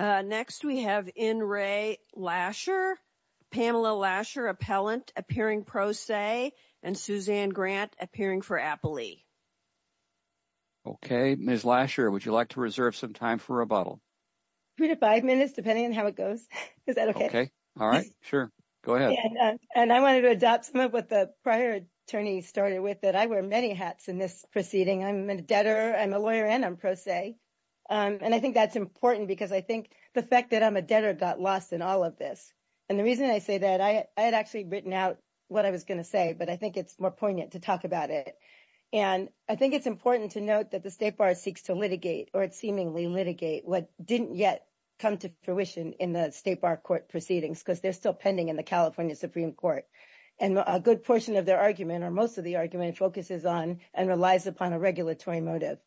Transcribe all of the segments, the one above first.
Next, we have in Ray Lasher, Pamela Lasher, appellant appearing pro se, and Suzanne Grant appearing for Appley. Okay, Ms. Lasher, would you like to reserve some time for rebuttal? Three to five minutes, depending on how it goes. Is that okay? All right. Sure. Go ahead. And I wanted to adopt some of what the prior attorney started with, that I wear many hats in this proceeding. I'm a debtor, I'm a lawyer, and I'm pro se. And I think that's important because I think the fact that I'm a debtor got lost in all of this. And the reason I say that, I had actually written out what I was going to say, but I think it's more poignant to talk about it. And I think it's important to note that the State Bar seeks to litigate or seemingly litigate what didn't yet come to fruition in the State Bar court proceedings, because they're still pending in the California Supreme Court. And a good portion of their argument, or most of the argument, focuses on and relies upon a regulatory motive,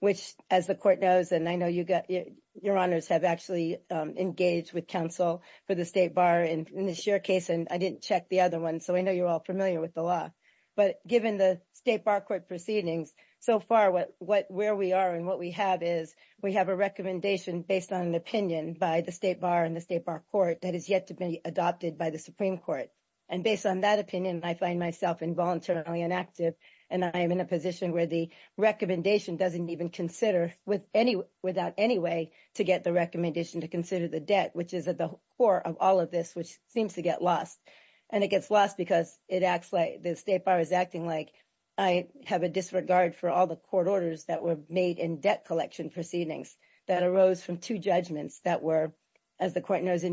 which, as the court knows, and I know your honors have actually engaged with counsel for the State Bar in this year case, and I didn't check the other one, so I know you're all familiar with the law. But given the State Bar court proceedings, so far, where we are and what we have is, we have a recommendation based on an opinion by the State Bar and the State Bar court that is yet to be adopted by the Supreme Court. And based on that opinion, I find myself involuntarily inactive, and I am in a position where the recommendation doesn't even consider, without any way, to get the recommendation to consider the debt, which is at the core of all of this, which seems to get lost. And it gets lost because it acts like, the State Bar is acting like I have a disregard for all the court orders that were made in debt collection proceedings that arose from two judgments that were, as the court knows,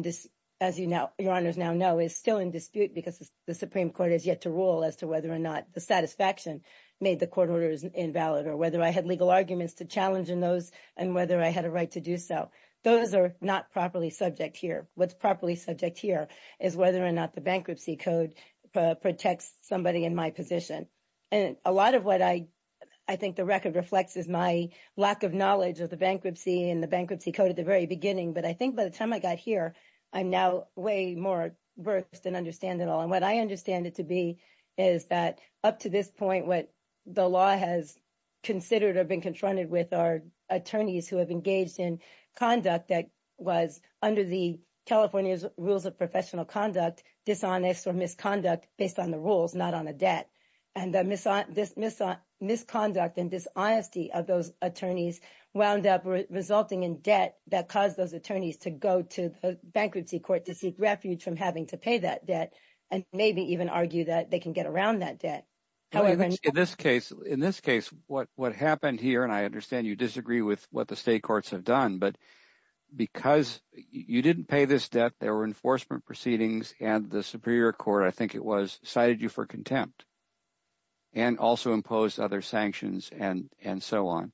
as your honors now know, is still in dispute because the Supreme Court has yet to rule as to whether or not the satisfaction made the court order is invalid, or whether I had legal arguments to challenge in those, and whether I had a right to do so. Those are not properly subject here. What's properly subject here is whether or not the bankruptcy code protects somebody in my position. And a lot of what I think the record reflects is my lack of knowledge of the bankruptcy and the bankruptcy code at the very beginning. But I think by the time I got here, I'm now way more versed and understand it all. And what I understand it to be is that up to this point, what the law has considered or been confronted with are attorneys who have engaged in conduct that was under the California's rules of professional conduct, dishonest or misconduct based on the rules, not on a debt. And this misconduct and dishonesty of those attorneys wound up resulting in debt that caused those attorneys to go to the bankruptcy court to seek refuge from having to pay that maybe even argue that they can get around that debt. However, in this case, what happened here, and I understand you disagree with what the state courts have done, but because you didn't pay this debt, there were enforcement proceedings and the Superior Court, I think it was, cited you for contempt and also imposed other sanctions and so on.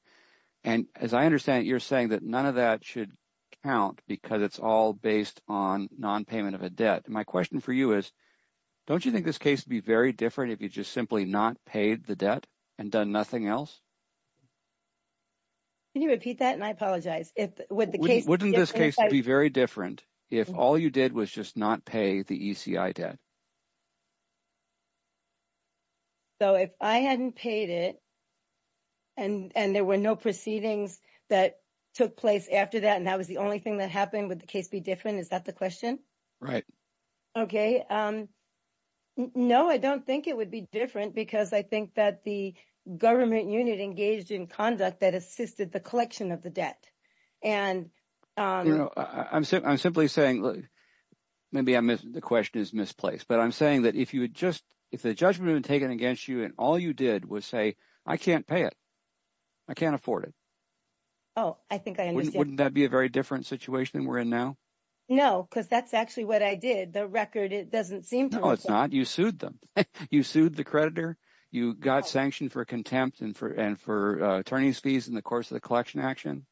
And as I understand it, you're saying that none of that should count because it's all based on nonpayment of a debt. My question for you is, don't you think this case would be very different if you just simply not paid the debt and done nothing else? Can you repeat that? And I apologize. Wouldn't this case be very different if all you did was just not pay the ECI debt? So if I hadn't paid it and there were no proceedings that took place after that, and that was the only thing that happened, would the case be different? Is that the question? Right. Okay. No, I don't think it would be different because I think that the government unit engaged in conduct that assisted the collection of the debt. And I'm simply saying, maybe the question is misplaced, but I'm saying that if the judgment had been taken against you and all you did was say, I can't pay it, I can't afford it. Oh, I think I understand. Wouldn't that be a very different situation than we're in now? No, because that's actually what I did. The record, it doesn't seem to work. No, it's not. You sued them. You sued the creditor. You got sanctioned for contempt and for attorney's fees in the course of the collection action.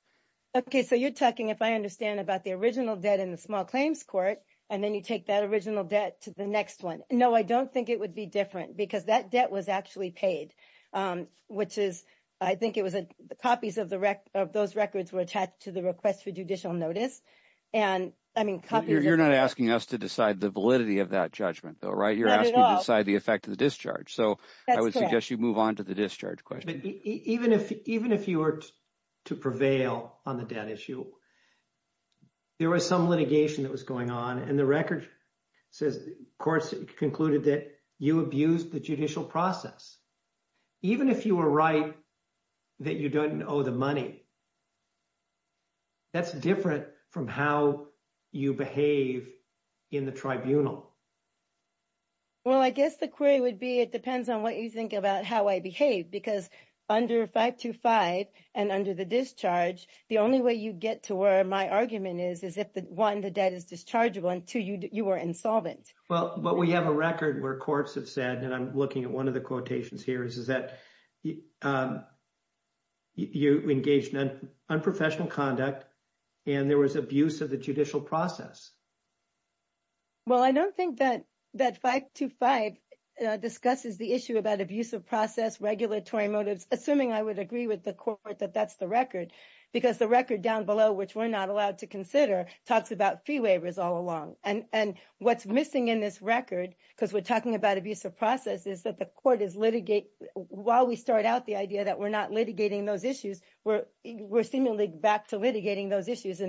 Okay. So you're talking, if I understand about the original debt in the small claims court, and then you take that original debt to the next one. No, I don't think it would be different because that debt was actually paid, which is, I think it was the copies of those records were attached to the request for judicial notice. And I mean, copies- You're not asking us to decide the validity of that judgment though, right? You're asking us to decide the effect of the discharge. So I would suggest you move on to the discharge question. Even if you were to prevail on the debt issue, there was some litigation that was going on. And the record says, courts concluded that you abused the judicial process. Even if you were right that you don't owe the money, that's different from how you behave in the tribunal. Well, I guess the query would be, it depends on what you think about how I behave. Because under 525 and under the discharge, the only way you get to where my argument is, is if one, the debt is dischargeable and two, you were insolvent. Well, but we have a record where courts have said, and I'm looking at one of the quotations here, is that you engaged in unprofessional conduct and there was abuse of the judicial process. Well, I don't think that 525 discusses the issue about abuse of process, regulatory motives, assuming I would agree with the court that that's the record. Because the record down below, which we're not allowed to consider, talks about fee waivers all along. And what's missing in this record, because we're talking about abuse of process, is that the court is litigating, while we start out the idea that we're not litigating those issues, we're seemingly back to litigating those issues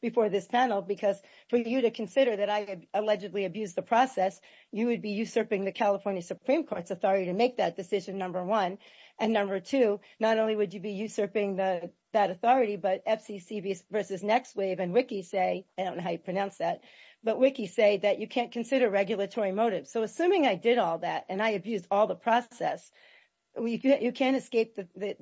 before this panel. Because for you to consider that I allegedly abused the process, you would be usurping the California Supreme Court's authority to make that decision, number one. And number two, not only would you be usurping that authority, but FCC versus NextWave and WICCI say, I don't know how you pronounce that, but WICCI say that you can't consider regulatory motives. So assuming I did all that and I abused all the process, you can't escape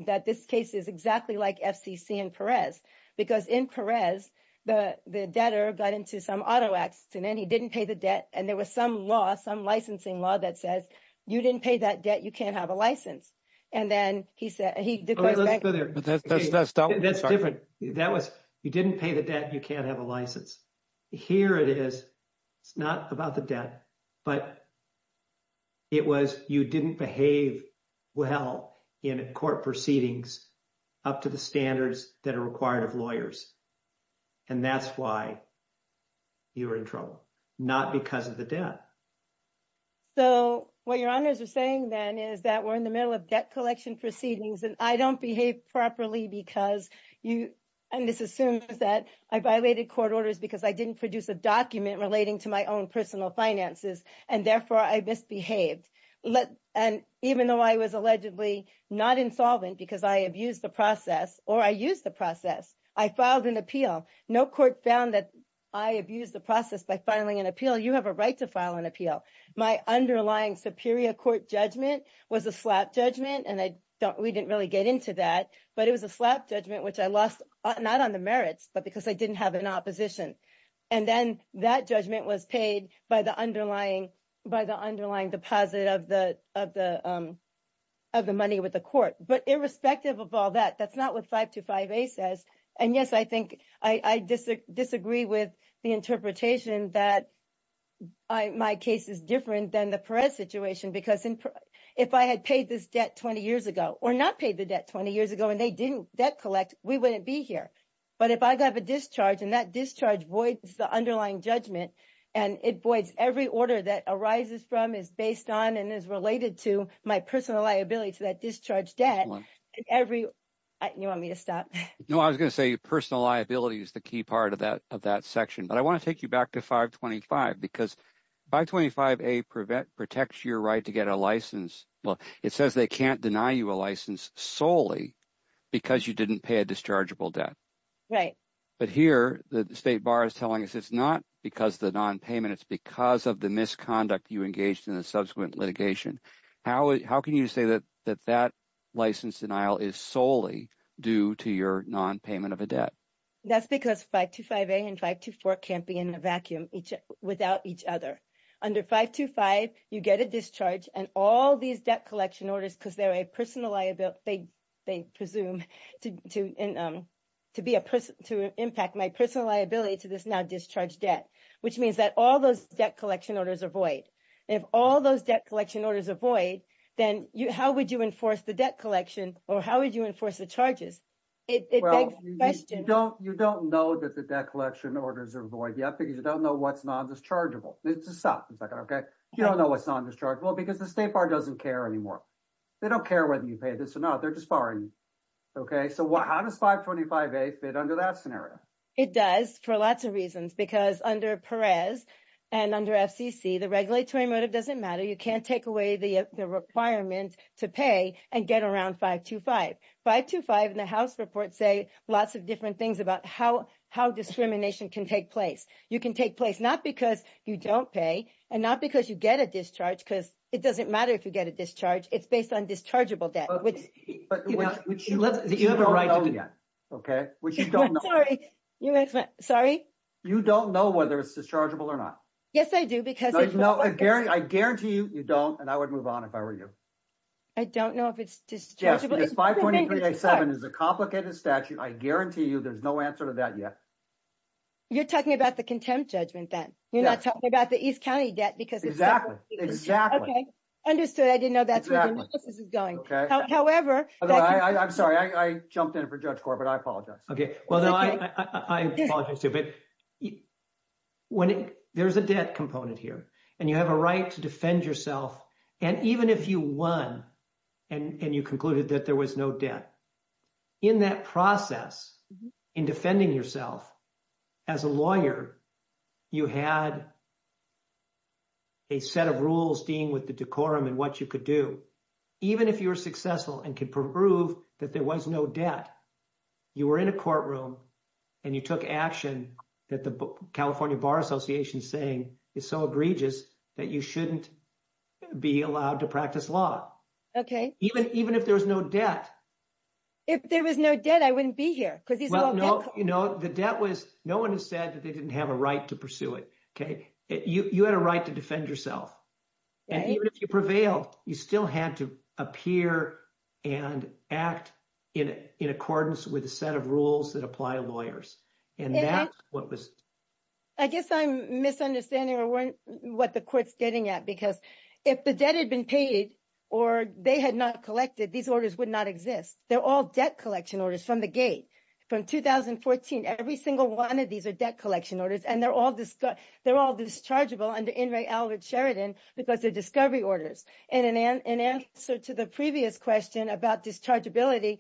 that this case is exactly like FCC and Perez. Because in Perez, the debtor got into some auto accident, he didn't pay the debt, and there was some law, some licensing law that says, you didn't pay that debt, you can't have a license. And then he said, he goes back- That's different. That was, you didn't pay the debt, you can't have a license. Here it is, it's not about the debt, but it was you didn't behave well in court proceedings up to the standards that are required of lawyers. And that's why you're in trouble, not because of the debt. So what your honors are saying then is that we're in the middle of debt collection proceedings, and I don't behave properly because you, and this assumes that I violated court orders because I didn't produce a document relating to my own personal finances, and therefore I misbehaved. And even though I was allegedly not insolvent because I abused the process, or I used the process, I filed an appeal. No court found that I abused the process by filing an appeal. You have a right to file an appeal. My underlying superior court judgment was a slap judgment, and we didn't really get into that. But it was a slap judgment, which I lost, not on the merits, but because I didn't have an opposition. And then that judgment was paid by the underlying deposit of the money with the court. But irrespective of all that, that's not what 525A says. And yes, I disagree with the interpretation that my case is different than the Perez situation, because if I had paid this debt 20 years ago, or not paid the debt 20 years ago, and they didn't debt collect, we wouldn't be here. But if I have a discharge, and that discharge voids the underlying judgment, and it voids every order that arises from, is based on, and is related to my personal liability to that discharge debt, every, you want me to stop? No, I was going to say personal liability is the key part of that section. I want to take you back to 525, because 525A protects your right to get a license, well, it says they can't deny you a license solely because you didn't pay a dischargeable debt. But here, the State Bar is telling us it's not because of the nonpayment, it's because of the misconduct you engaged in the subsequent litigation. How can you say that that license denial is solely due to your nonpayment of a debt? That's because 525A and 524 can't be in a vacuum without each other. Under 525, you get a discharge, and all these debt collection orders, because they're a personal liability, they presume to be a person, to impact my personal liability to this now discharged debt, which means that all those debt collection orders are void. If all those debt collection orders are void, then how would you enforce the debt collection, or how would you enforce the charges? It begs the question. Well, you don't know that the debt collection orders are void yet, because you don't know what's non-dischargeable. Let's just stop for a second, okay? You don't know what's non-dischargeable, because the State Bar doesn't care anymore. They don't care whether you pay this or not, they're just borrowing you, okay? So how does 525A fit under that scenario? It does, for lots of reasons, because under Perez and under FCC, the regulatory motive doesn't matter. You can't take away the requirement to pay and get around 525. 525 in the House report say lots of different things about how discrimination can take place. You can take place, not because you don't pay, and not because you get a discharge, because it doesn't matter if you get a discharge, it's based on dischargeable debt, which you don't know yet, okay? Sorry? You don't know whether it's dischargeable or not. Yes, I do, because- No, I guarantee you, you don't, and I would move on if I were you. I don't know if it's dischargeable. Yes, 525A7 is a complicated statute. I guarantee you, there's no answer to that yet. You're talking about the contempt judgment then? You're not talking about the East County debt because- Exactly, exactly. Okay, understood. I didn't know that's where the analysis is going. However- I'm sorry, I jumped in for Judge Corr, but I apologize. Okay, well, I apologize too, but there's a debt component here, and you have a right to defend yourself. Even if you won and you concluded that there was no debt, in that process, in defending yourself as a lawyer, you had a set of rules dealing with the decorum and what you could do. Even if you were successful and could prove that there was no debt, you were in a courtroom and you took action that the California Bar Association is saying is so egregious that you shouldn't be allowed to practice law. Okay. Even if there was no debt. If there was no debt, I wouldn't be here because there's no debt- No, the debt was, no one has said that they didn't have a right to pursue it. You had a right to defend yourself, and even if you prevailed, you still had to appear and act in accordance with a set of rules that apply to lawyers, and that's what was- I guess I'm misunderstanding what the court's getting at because if the debt had been paid or they had not collected, these orders would not exist. They're all debt collection orders from the gate. From 2014, every single one of these are debt collection orders, and they're all dischargeable under Inmate Albert Sheridan because they're discovery orders. And in answer to the previous question about dischargeability,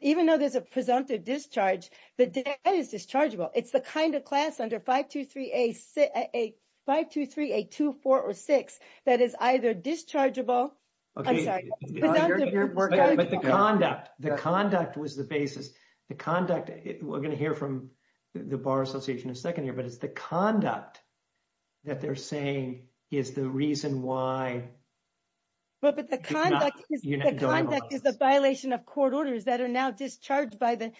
even though there's a presumptive discharge, the debt is dischargeable. It's the kind of class under 523-8246 that is either dischargeable- But the conduct, the conduct was the basis. The conduct, we're going to hear from the Bar Association in a second here, but it's the conduct that they're saying is the reason why- Well, but the conduct is the violation of court orders that are now discharged by the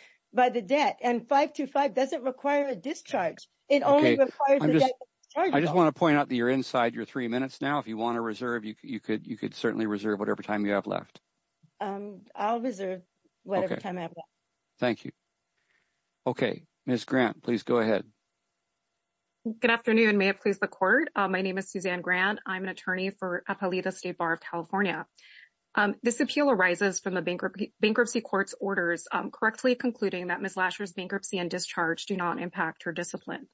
debt. And 525 doesn't require a discharge. It only requires the debt to be dischargeable. I just want to point out that you're inside your three minutes now. If you want to reserve, you could certainly reserve whatever time you have left. I'll reserve whatever time I have left. Thank you. Okay. Ms. Grant, please go ahead. Good afternoon. May it please the court. My name is Suzanne Grant. I'm an attorney for Apollita State Bar of California. This appeal arises from the bankruptcy court's orders, correctly concluding that Ms. Latcher's bankruptcy and discharge do not impact her discipline.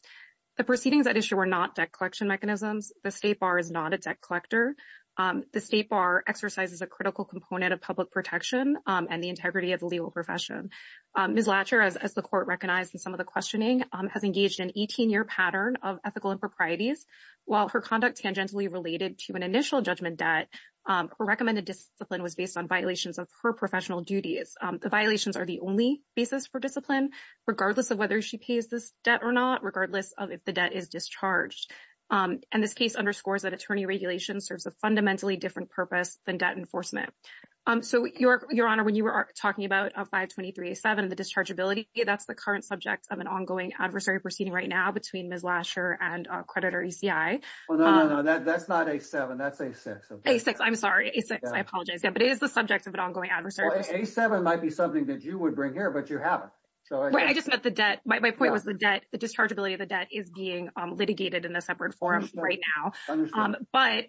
The proceedings at issue were not debt collection mechanisms. The State Bar is not a debt collector. The State Bar exercises a critical component of public protection and the integrity of the legal profession. Ms. Latcher, as the court recognized in some of the questioning, has engaged in an 18-year pattern of ethical improprieties. While her conduct tangentially related to an initial judgment debt, her recommended discipline was based on violations of her professional duties. The violations are the only basis for discipline, regardless of whether she pays this debt or not, regardless of if the debt is discharged. And this case underscores that attorney regulation serves a fundamentally different purpose than debt enforcement. So, Your Honor, when you were talking about 523A7 and the dischargeability, that's the current subject of an ongoing adversary proceeding right now between Ms. Latcher and creditor ECI. Well, no, no, no. That's not A7. That's A6. A6. I'm sorry. A6. I apologize. But it is the subject of an ongoing adversary proceeding. A7 might be something that you would bring here, but you haven't. I just meant the debt. My point was the dischargeability of the debt is being litigated in a separate forum right now. But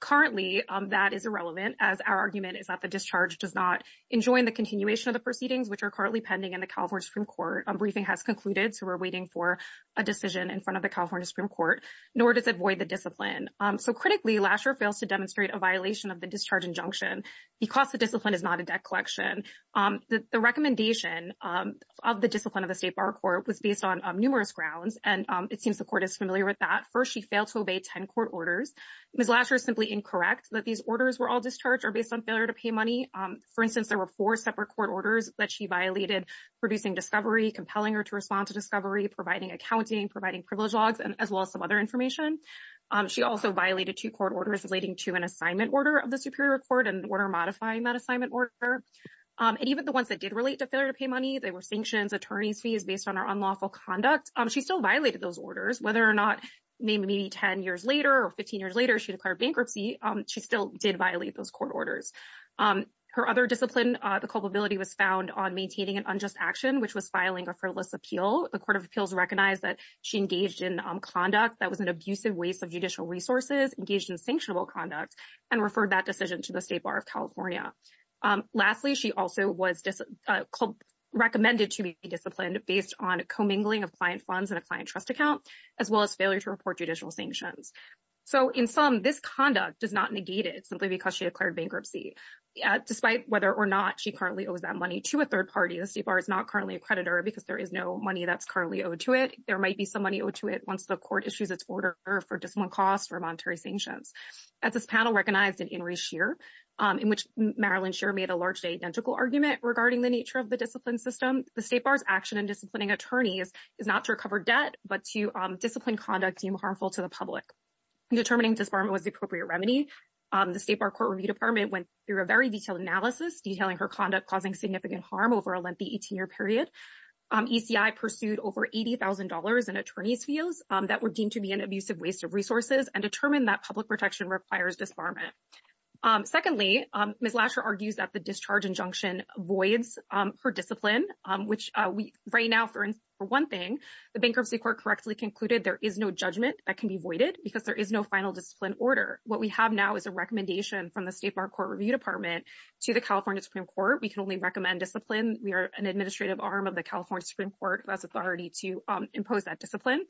currently, that is irrelevant, as our argument is that the discharge does not enjoin the continuation of the proceedings, which are currently pending in the California Supreme Court. A briefing has concluded, so we're waiting for a decision in front of the California Supreme Court. Nor does it void the discipline. So critically, Latcher fails to demonstrate a violation of the discharge injunction because the discipline is not a debt collection. The recommendation of the discipline of the state bar court was based on numerous grounds, and it seems the court is familiar with that. First, she failed to obey 10 court orders. Ms. Latcher is simply incorrect that these orders were all discharged or based on failure to pay money. For instance, there were four separate court orders that she violated, producing discovery, compelling her to respond to discovery, providing accounting, providing privilege logs, as well as some other information. She also violated two court orders relating to an assignment order of the Superior Court and order modifying that assignment order. And even the ones that did relate to failure to pay money, they were sanctions, attorney's fees based on her unlawful conduct. She still violated those orders. Whether or not, maybe 10 years later or 15 years later, she declared bankruptcy, she still did violate those court orders. Her other discipline, the culpability was found on maintaining an unjust action, which was filing a frivolous appeal. The Court of Resources engaged in sanctionable conduct and referred that decision to the State Bar of California. Lastly, she also was recommended to be disciplined based on commingling of client funds and a client trust account, as well as failure to report judicial sanctions. So in sum, this conduct does not negate it simply because she declared bankruptcy. Despite whether or not she currently owes that money to a third party, the State Bar is not currently a creditor because there is no money that's currently owed to it. There might be some issues that's ordered for discipline costs or monetary sanctions. As this panel recognized in In Re Shear, in which Marilyn Shear made a largely identical argument regarding the nature of the discipline system, the State Bar's action in disciplining attorneys is not to recover debt, but to discipline conduct deemed harmful to the public. Determining disbarment was the appropriate remedy. The State Bar Court Review Department went through a very detailed analysis detailing her conduct causing significant harm over a lengthy 18-year period. ECI pursued over $80,000 in attorney's fees that were deemed to be an abusive waste of resources and determined that public protection requires disbarment. Secondly, Ms. Lasher argues that the discharge injunction voids her discipline, which right now, for one thing, the Bankruptcy Court correctly concluded there is no judgment that can be voided because there is no final discipline order. What we have now is a recommendation from the State Bar Court Review Department to the California Supreme Court. We can only recommend discipline. We are an administrative arm of the California Supreme Court. That's authority to impose that discipline.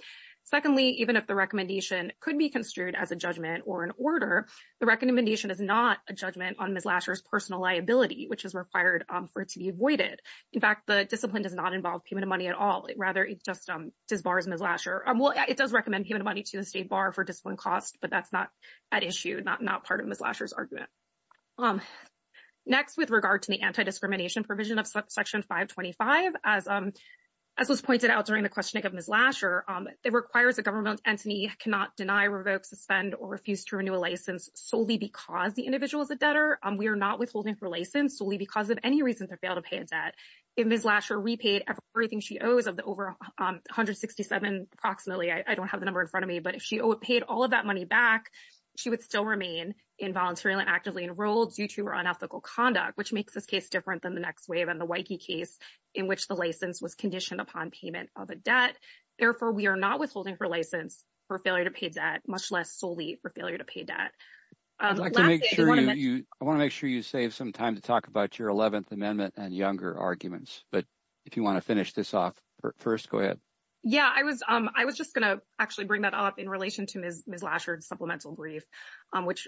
Secondly, even if the recommendation could be construed as a judgment or an order, the recommendation is not a judgment on Ms. Lasher's personal liability, which is required for it to be voided. In fact, the discipline does not involve payment of money at all. Rather, it just disbars Ms. Lasher. Well, it does recommend payment of money to the State Bar for discipline costs, but that's not at issue, not part of Ms. Lasher's argument. Next, with regard to the anti-discrimination provision of Section 525, as was pointed out during the questioning of Ms. Lasher, it requires a government entity cannot deny, revoke, suspend, or refuse to renew a license solely because the individual is a debtor. We are not withholding for license solely because of any reason to fail to pay a debt. If Ms. Lasher repaid everything she owes of the over $167, approximately, I don't have the number in front of me, but if she paid all of that money back, she would still remain involuntarily and actively enrolled due to her unethical conduct, which makes this case different than the next wave and the Waikiki case in which the license was conditioned upon payment of a debt. Therefore, we are not withholding for license for failure to pay debt, much less solely for failure to pay debt. I want to make sure you save some time to talk about your 11th Amendment and younger arguments, but if you want to finish this off first, go ahead. Yeah, I was just going to actually bring that up in relation to Ms. Lasher's supplemental brief, which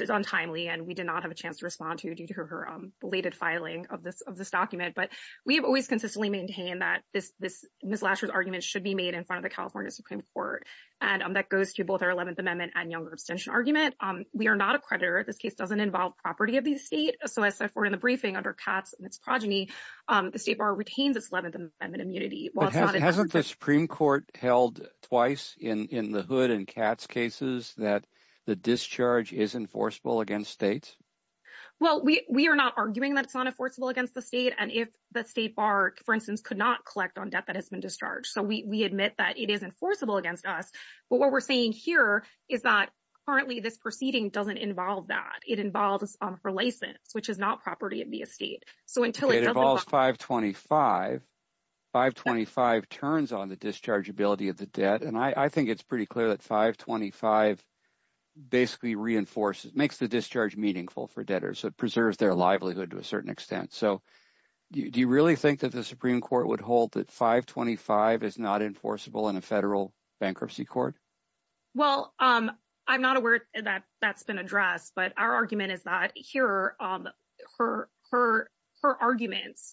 is untimely, and we did not have a chance to respond to due to her belated filing of this document, but we have always consistently maintained that Ms. Lasher's argument should be made in front of the California Supreme Court, and that goes to both our 11th Amendment and younger abstention argument. We are not a creditor. This case doesn't involve property of the state, so as set forth in the briefing under Katz and its progeny, the state bar retains its 11th Amendment immunity. Hasn't the Supreme Court held twice in the Hood and Katz cases that the discharge is enforceable against states? Well, we are not arguing that it's not enforceable against the state, and if the state bar, for instance, could not collect on debt that has been discharged, so we admit that it is enforceable against us, but what we're saying here is that currently this proceeding doesn't involve that. It involves for license, which is not property of the state, so until it involves 525, 525 turns on the dischargeability of the debt, and I think it's pretty clear that 525 basically reinforces, makes the discharge meaningful for debtors. It preserves their livelihood to a certain extent, so do you really think that the Supreme Court would hold that 525 is not enforceable in a federal bankruptcy court? Well, I'm not aware that that's been addressed, but our argument is that here, her arguments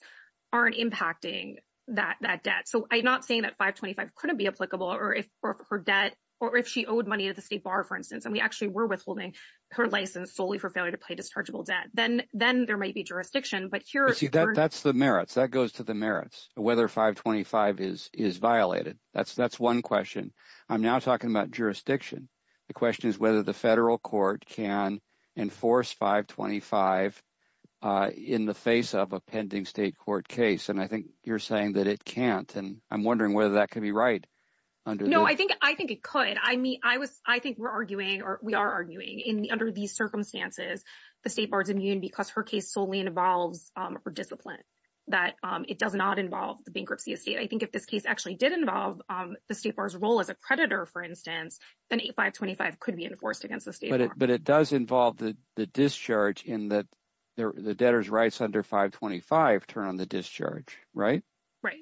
aren't impacting that debt, so I'm not saying that 525 couldn't be applicable, or if her debt, or if she owed money at the state bar, for instance, and we actually were withholding her license solely for failure to pay dischargeable debt, then there might be jurisdiction, but here... You see, that's the merits. That goes to the merits, whether 525 is violated. That's one question. I'm now talking about jurisdiction. The question is whether the federal court can enforce 525 in the face of a pending state court case, and I think you're saying that it can't, and I'm wondering whether that could be right. No, I think it could. I mean, I think we're arguing, or we are arguing, under these circumstances, the state bar is immune because her case solely involves her discipline, that it does not involve the bankruptcy of state. I think if this case actually did involve the state bar's role as a creditor, for instance, then 525 could be enforced against the state bar. But it does involve the discharge in that the debtor's rights under 525 turn on the discharge, right? Right.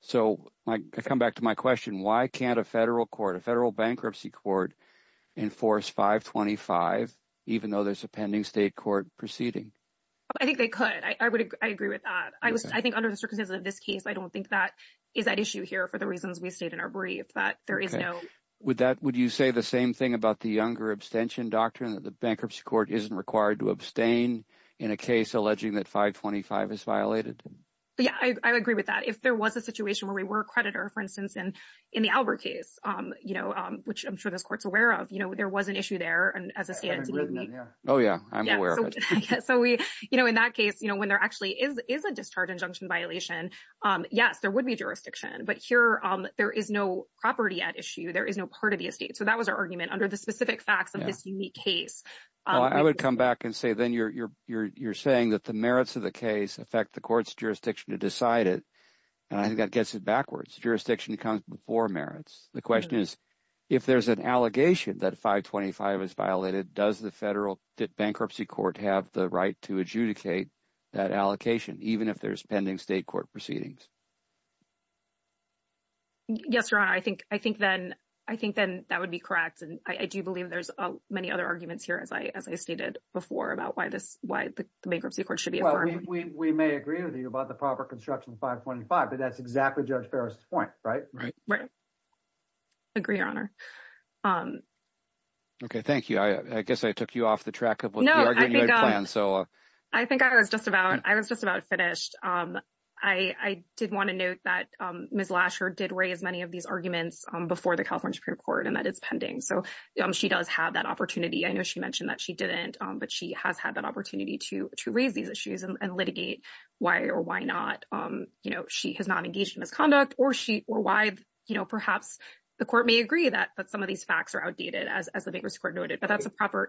So I come back to my question, why can't a federal court, a federal bankruptcy court, enforce 525 even though there's a pending state court proceeding? I think they could. I agree with that. I think under the circumstances of this case, I don't think that is at issue here for the reasons we stated in our case. Would you say the same thing about the Younger Abstention Doctrine, that the bankruptcy court isn't required to abstain in a case alleging that 525 is violated? Yeah, I agree with that. If there was a situation where we were a creditor, for instance, in the Albert case, which I'm sure this court's aware of, there was an issue there. Oh yeah, I'm aware of it. So in that case, when there actually is a discharge injunction violation, yes, there would be jurisdiction. But there is no property at issue. There is no part of the estate. So that was our argument under the specific facts of this unique case. I would come back and say then you're saying that the merits of the case affect the court's jurisdiction to decide it. And I think that gets it backwards. Jurisdiction comes before merits. The question is, if there's an allegation that 525 is violated, does the federal bankruptcy court have the right to adjudicate that allocation, even if there's pending state court proceedings? Yes, Your Honor. I think then that would be correct. And I do believe there's many other arguments here, as I stated before, about why the bankruptcy court should be affirmed. Well, we may agree with you about the proper construction of 525, but that's exactly Judge Ferris' point, right? Right. Agree, Your Honor. Okay, thank you. I guess I took you off the track of what you argued in your plan. I think I was just about finished. I did want to note that Ms. Lasher did raise many of these arguments before the California Supreme Court and that it's pending. So she does have that opportunity. I know she mentioned that she didn't, but she has had that opportunity to raise these issues and litigate why or why not. She has not engaged in misconduct or why perhaps the court may agree that some of these facts are outdated, as the bankruptcy court noted. But that's a proper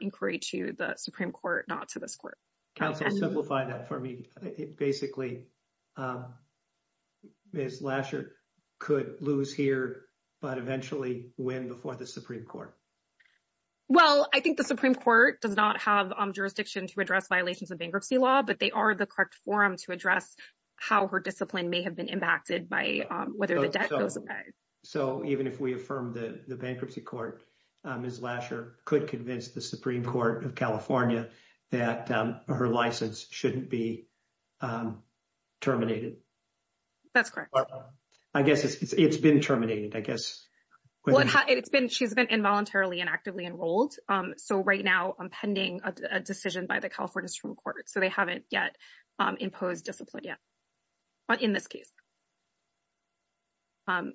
counsel. Simplify that for me. Basically, Ms. Lasher could lose here, but eventually win before the Supreme Court. Well, I think the Supreme Court does not have jurisdiction to address violations of bankruptcy law, but they are the correct forum to address how her discipline may have been impacted by whether the debt goes away. So even if we affirm the bankruptcy court, Ms. Lasher could convince the Supreme Court of California that her license shouldn't be terminated. That's correct. I guess it's been terminated, I guess. It's been, she's been involuntarily and actively enrolled. So right now, I'm pending a decision by the California Supreme Court. So they haven't yet imposed discipline yet in this case.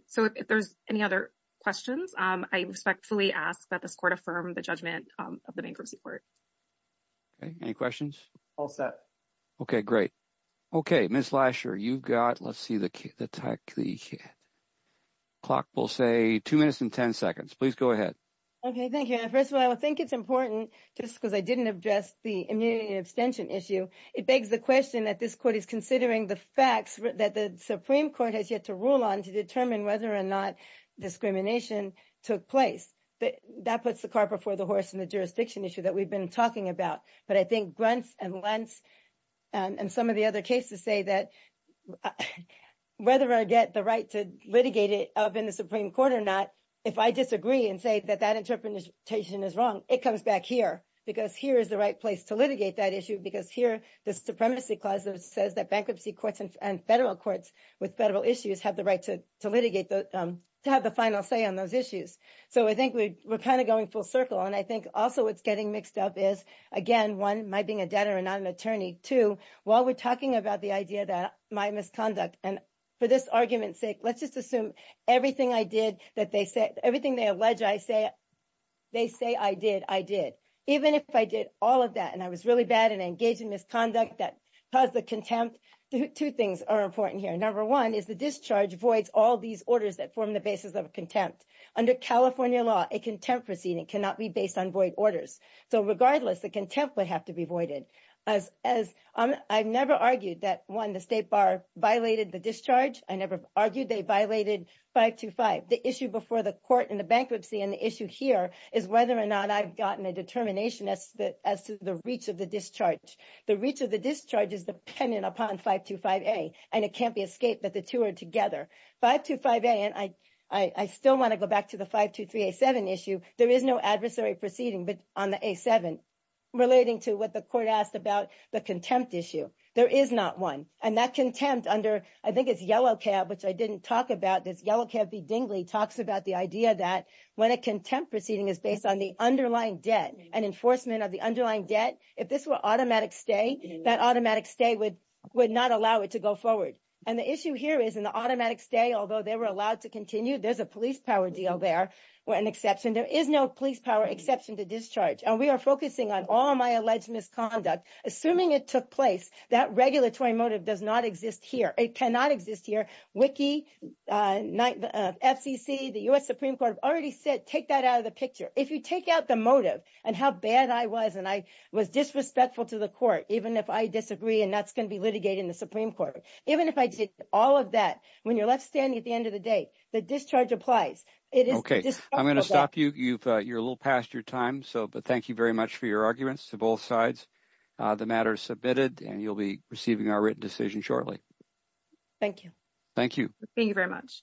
So if there's any other questions, I respectfully ask that this court affirm the judgment of the bankruptcy court. Okay, any questions? All set. Okay, great. Okay, Ms. Lasher, you've got, let's see the clock will say two minutes and 10 seconds. Please go ahead. Okay, thank you. First of all, I think it's important just because I didn't address the immunity abstention issue. It begs the question that this court is considering the facts that the Supreme Court has yet to rule on to determine whether or not discrimination took place. That puts the car before the horse in the jurisdiction issue that we've been talking about. But I think Gruntz and Lentz and some of the other cases say that whether or not I get the right to litigate it up in the Supreme Court or not, if I disagree and say that that interpretation is wrong, it comes back here. Because here is the right place to litigate that issue. Because here, the Supremacy Clause says that bankruptcy courts and federal issues have the right to litigate, to have the final say on those issues. So I think we're kind of going full circle. And I think also what's getting mixed up is, again, one, my being a debtor and not an attorney. Two, while we're talking about the idea that my misconduct, and for this argument's sake, let's just assume everything I did that they said, everything they allege I said, they say I did, I did. Even if I did all of that and I was really bad and Number one is the discharge voids all these orders that form the basis of contempt. Under California law, a contempt proceeding cannot be based on void orders. So regardless, the contempt would have to be voided. As I've never argued that, one, the State Bar violated the discharge. I never argued they violated 525. The issue before the court and the bankruptcy and the issue here is whether or not I've gotten a determination as to the reach of the discharge. The reach of the discharge is dependent upon 525A, and it can't be escaped that the two are together. 525A, and I still want to go back to the 523A7 issue, there is no adversary proceeding on the A7 relating to what the court asked about the contempt issue. There is not one. And that contempt under, I think it's Yellow Cab, which I didn't talk about, this Yellow Cab v. Dingley talks about the idea that when a contempt proceeding is based on the underlying debt and enforcement of the underlying debt, if this were automatic stay, that automatic stay would not allow it to go forward. And the issue here is in the automatic stay, although they were allowed to continue, there's a police power deal there or an exception. There is no police power exception to discharge. And we are focusing on all my alleged misconduct. Assuming it took place, that regulatory motive does not exist here. It cannot exist here. Wiki, FCC, the U.S. Supreme Court have already said, take that out of the picture. If you take out the motive and how bad I was, and I was disrespectful to the court, even if I disagree, and that's going to be litigated in the Supreme Court, even if I did all of that, when you're left standing at the end of the day, the discharge applies. Okay. I'm going to stop you. You're a little past your time. So thank you very much for your arguments to both sides. The matter is submitted, and you'll be receiving our written decision shortly. Thank you. Thank you. Thank you very much.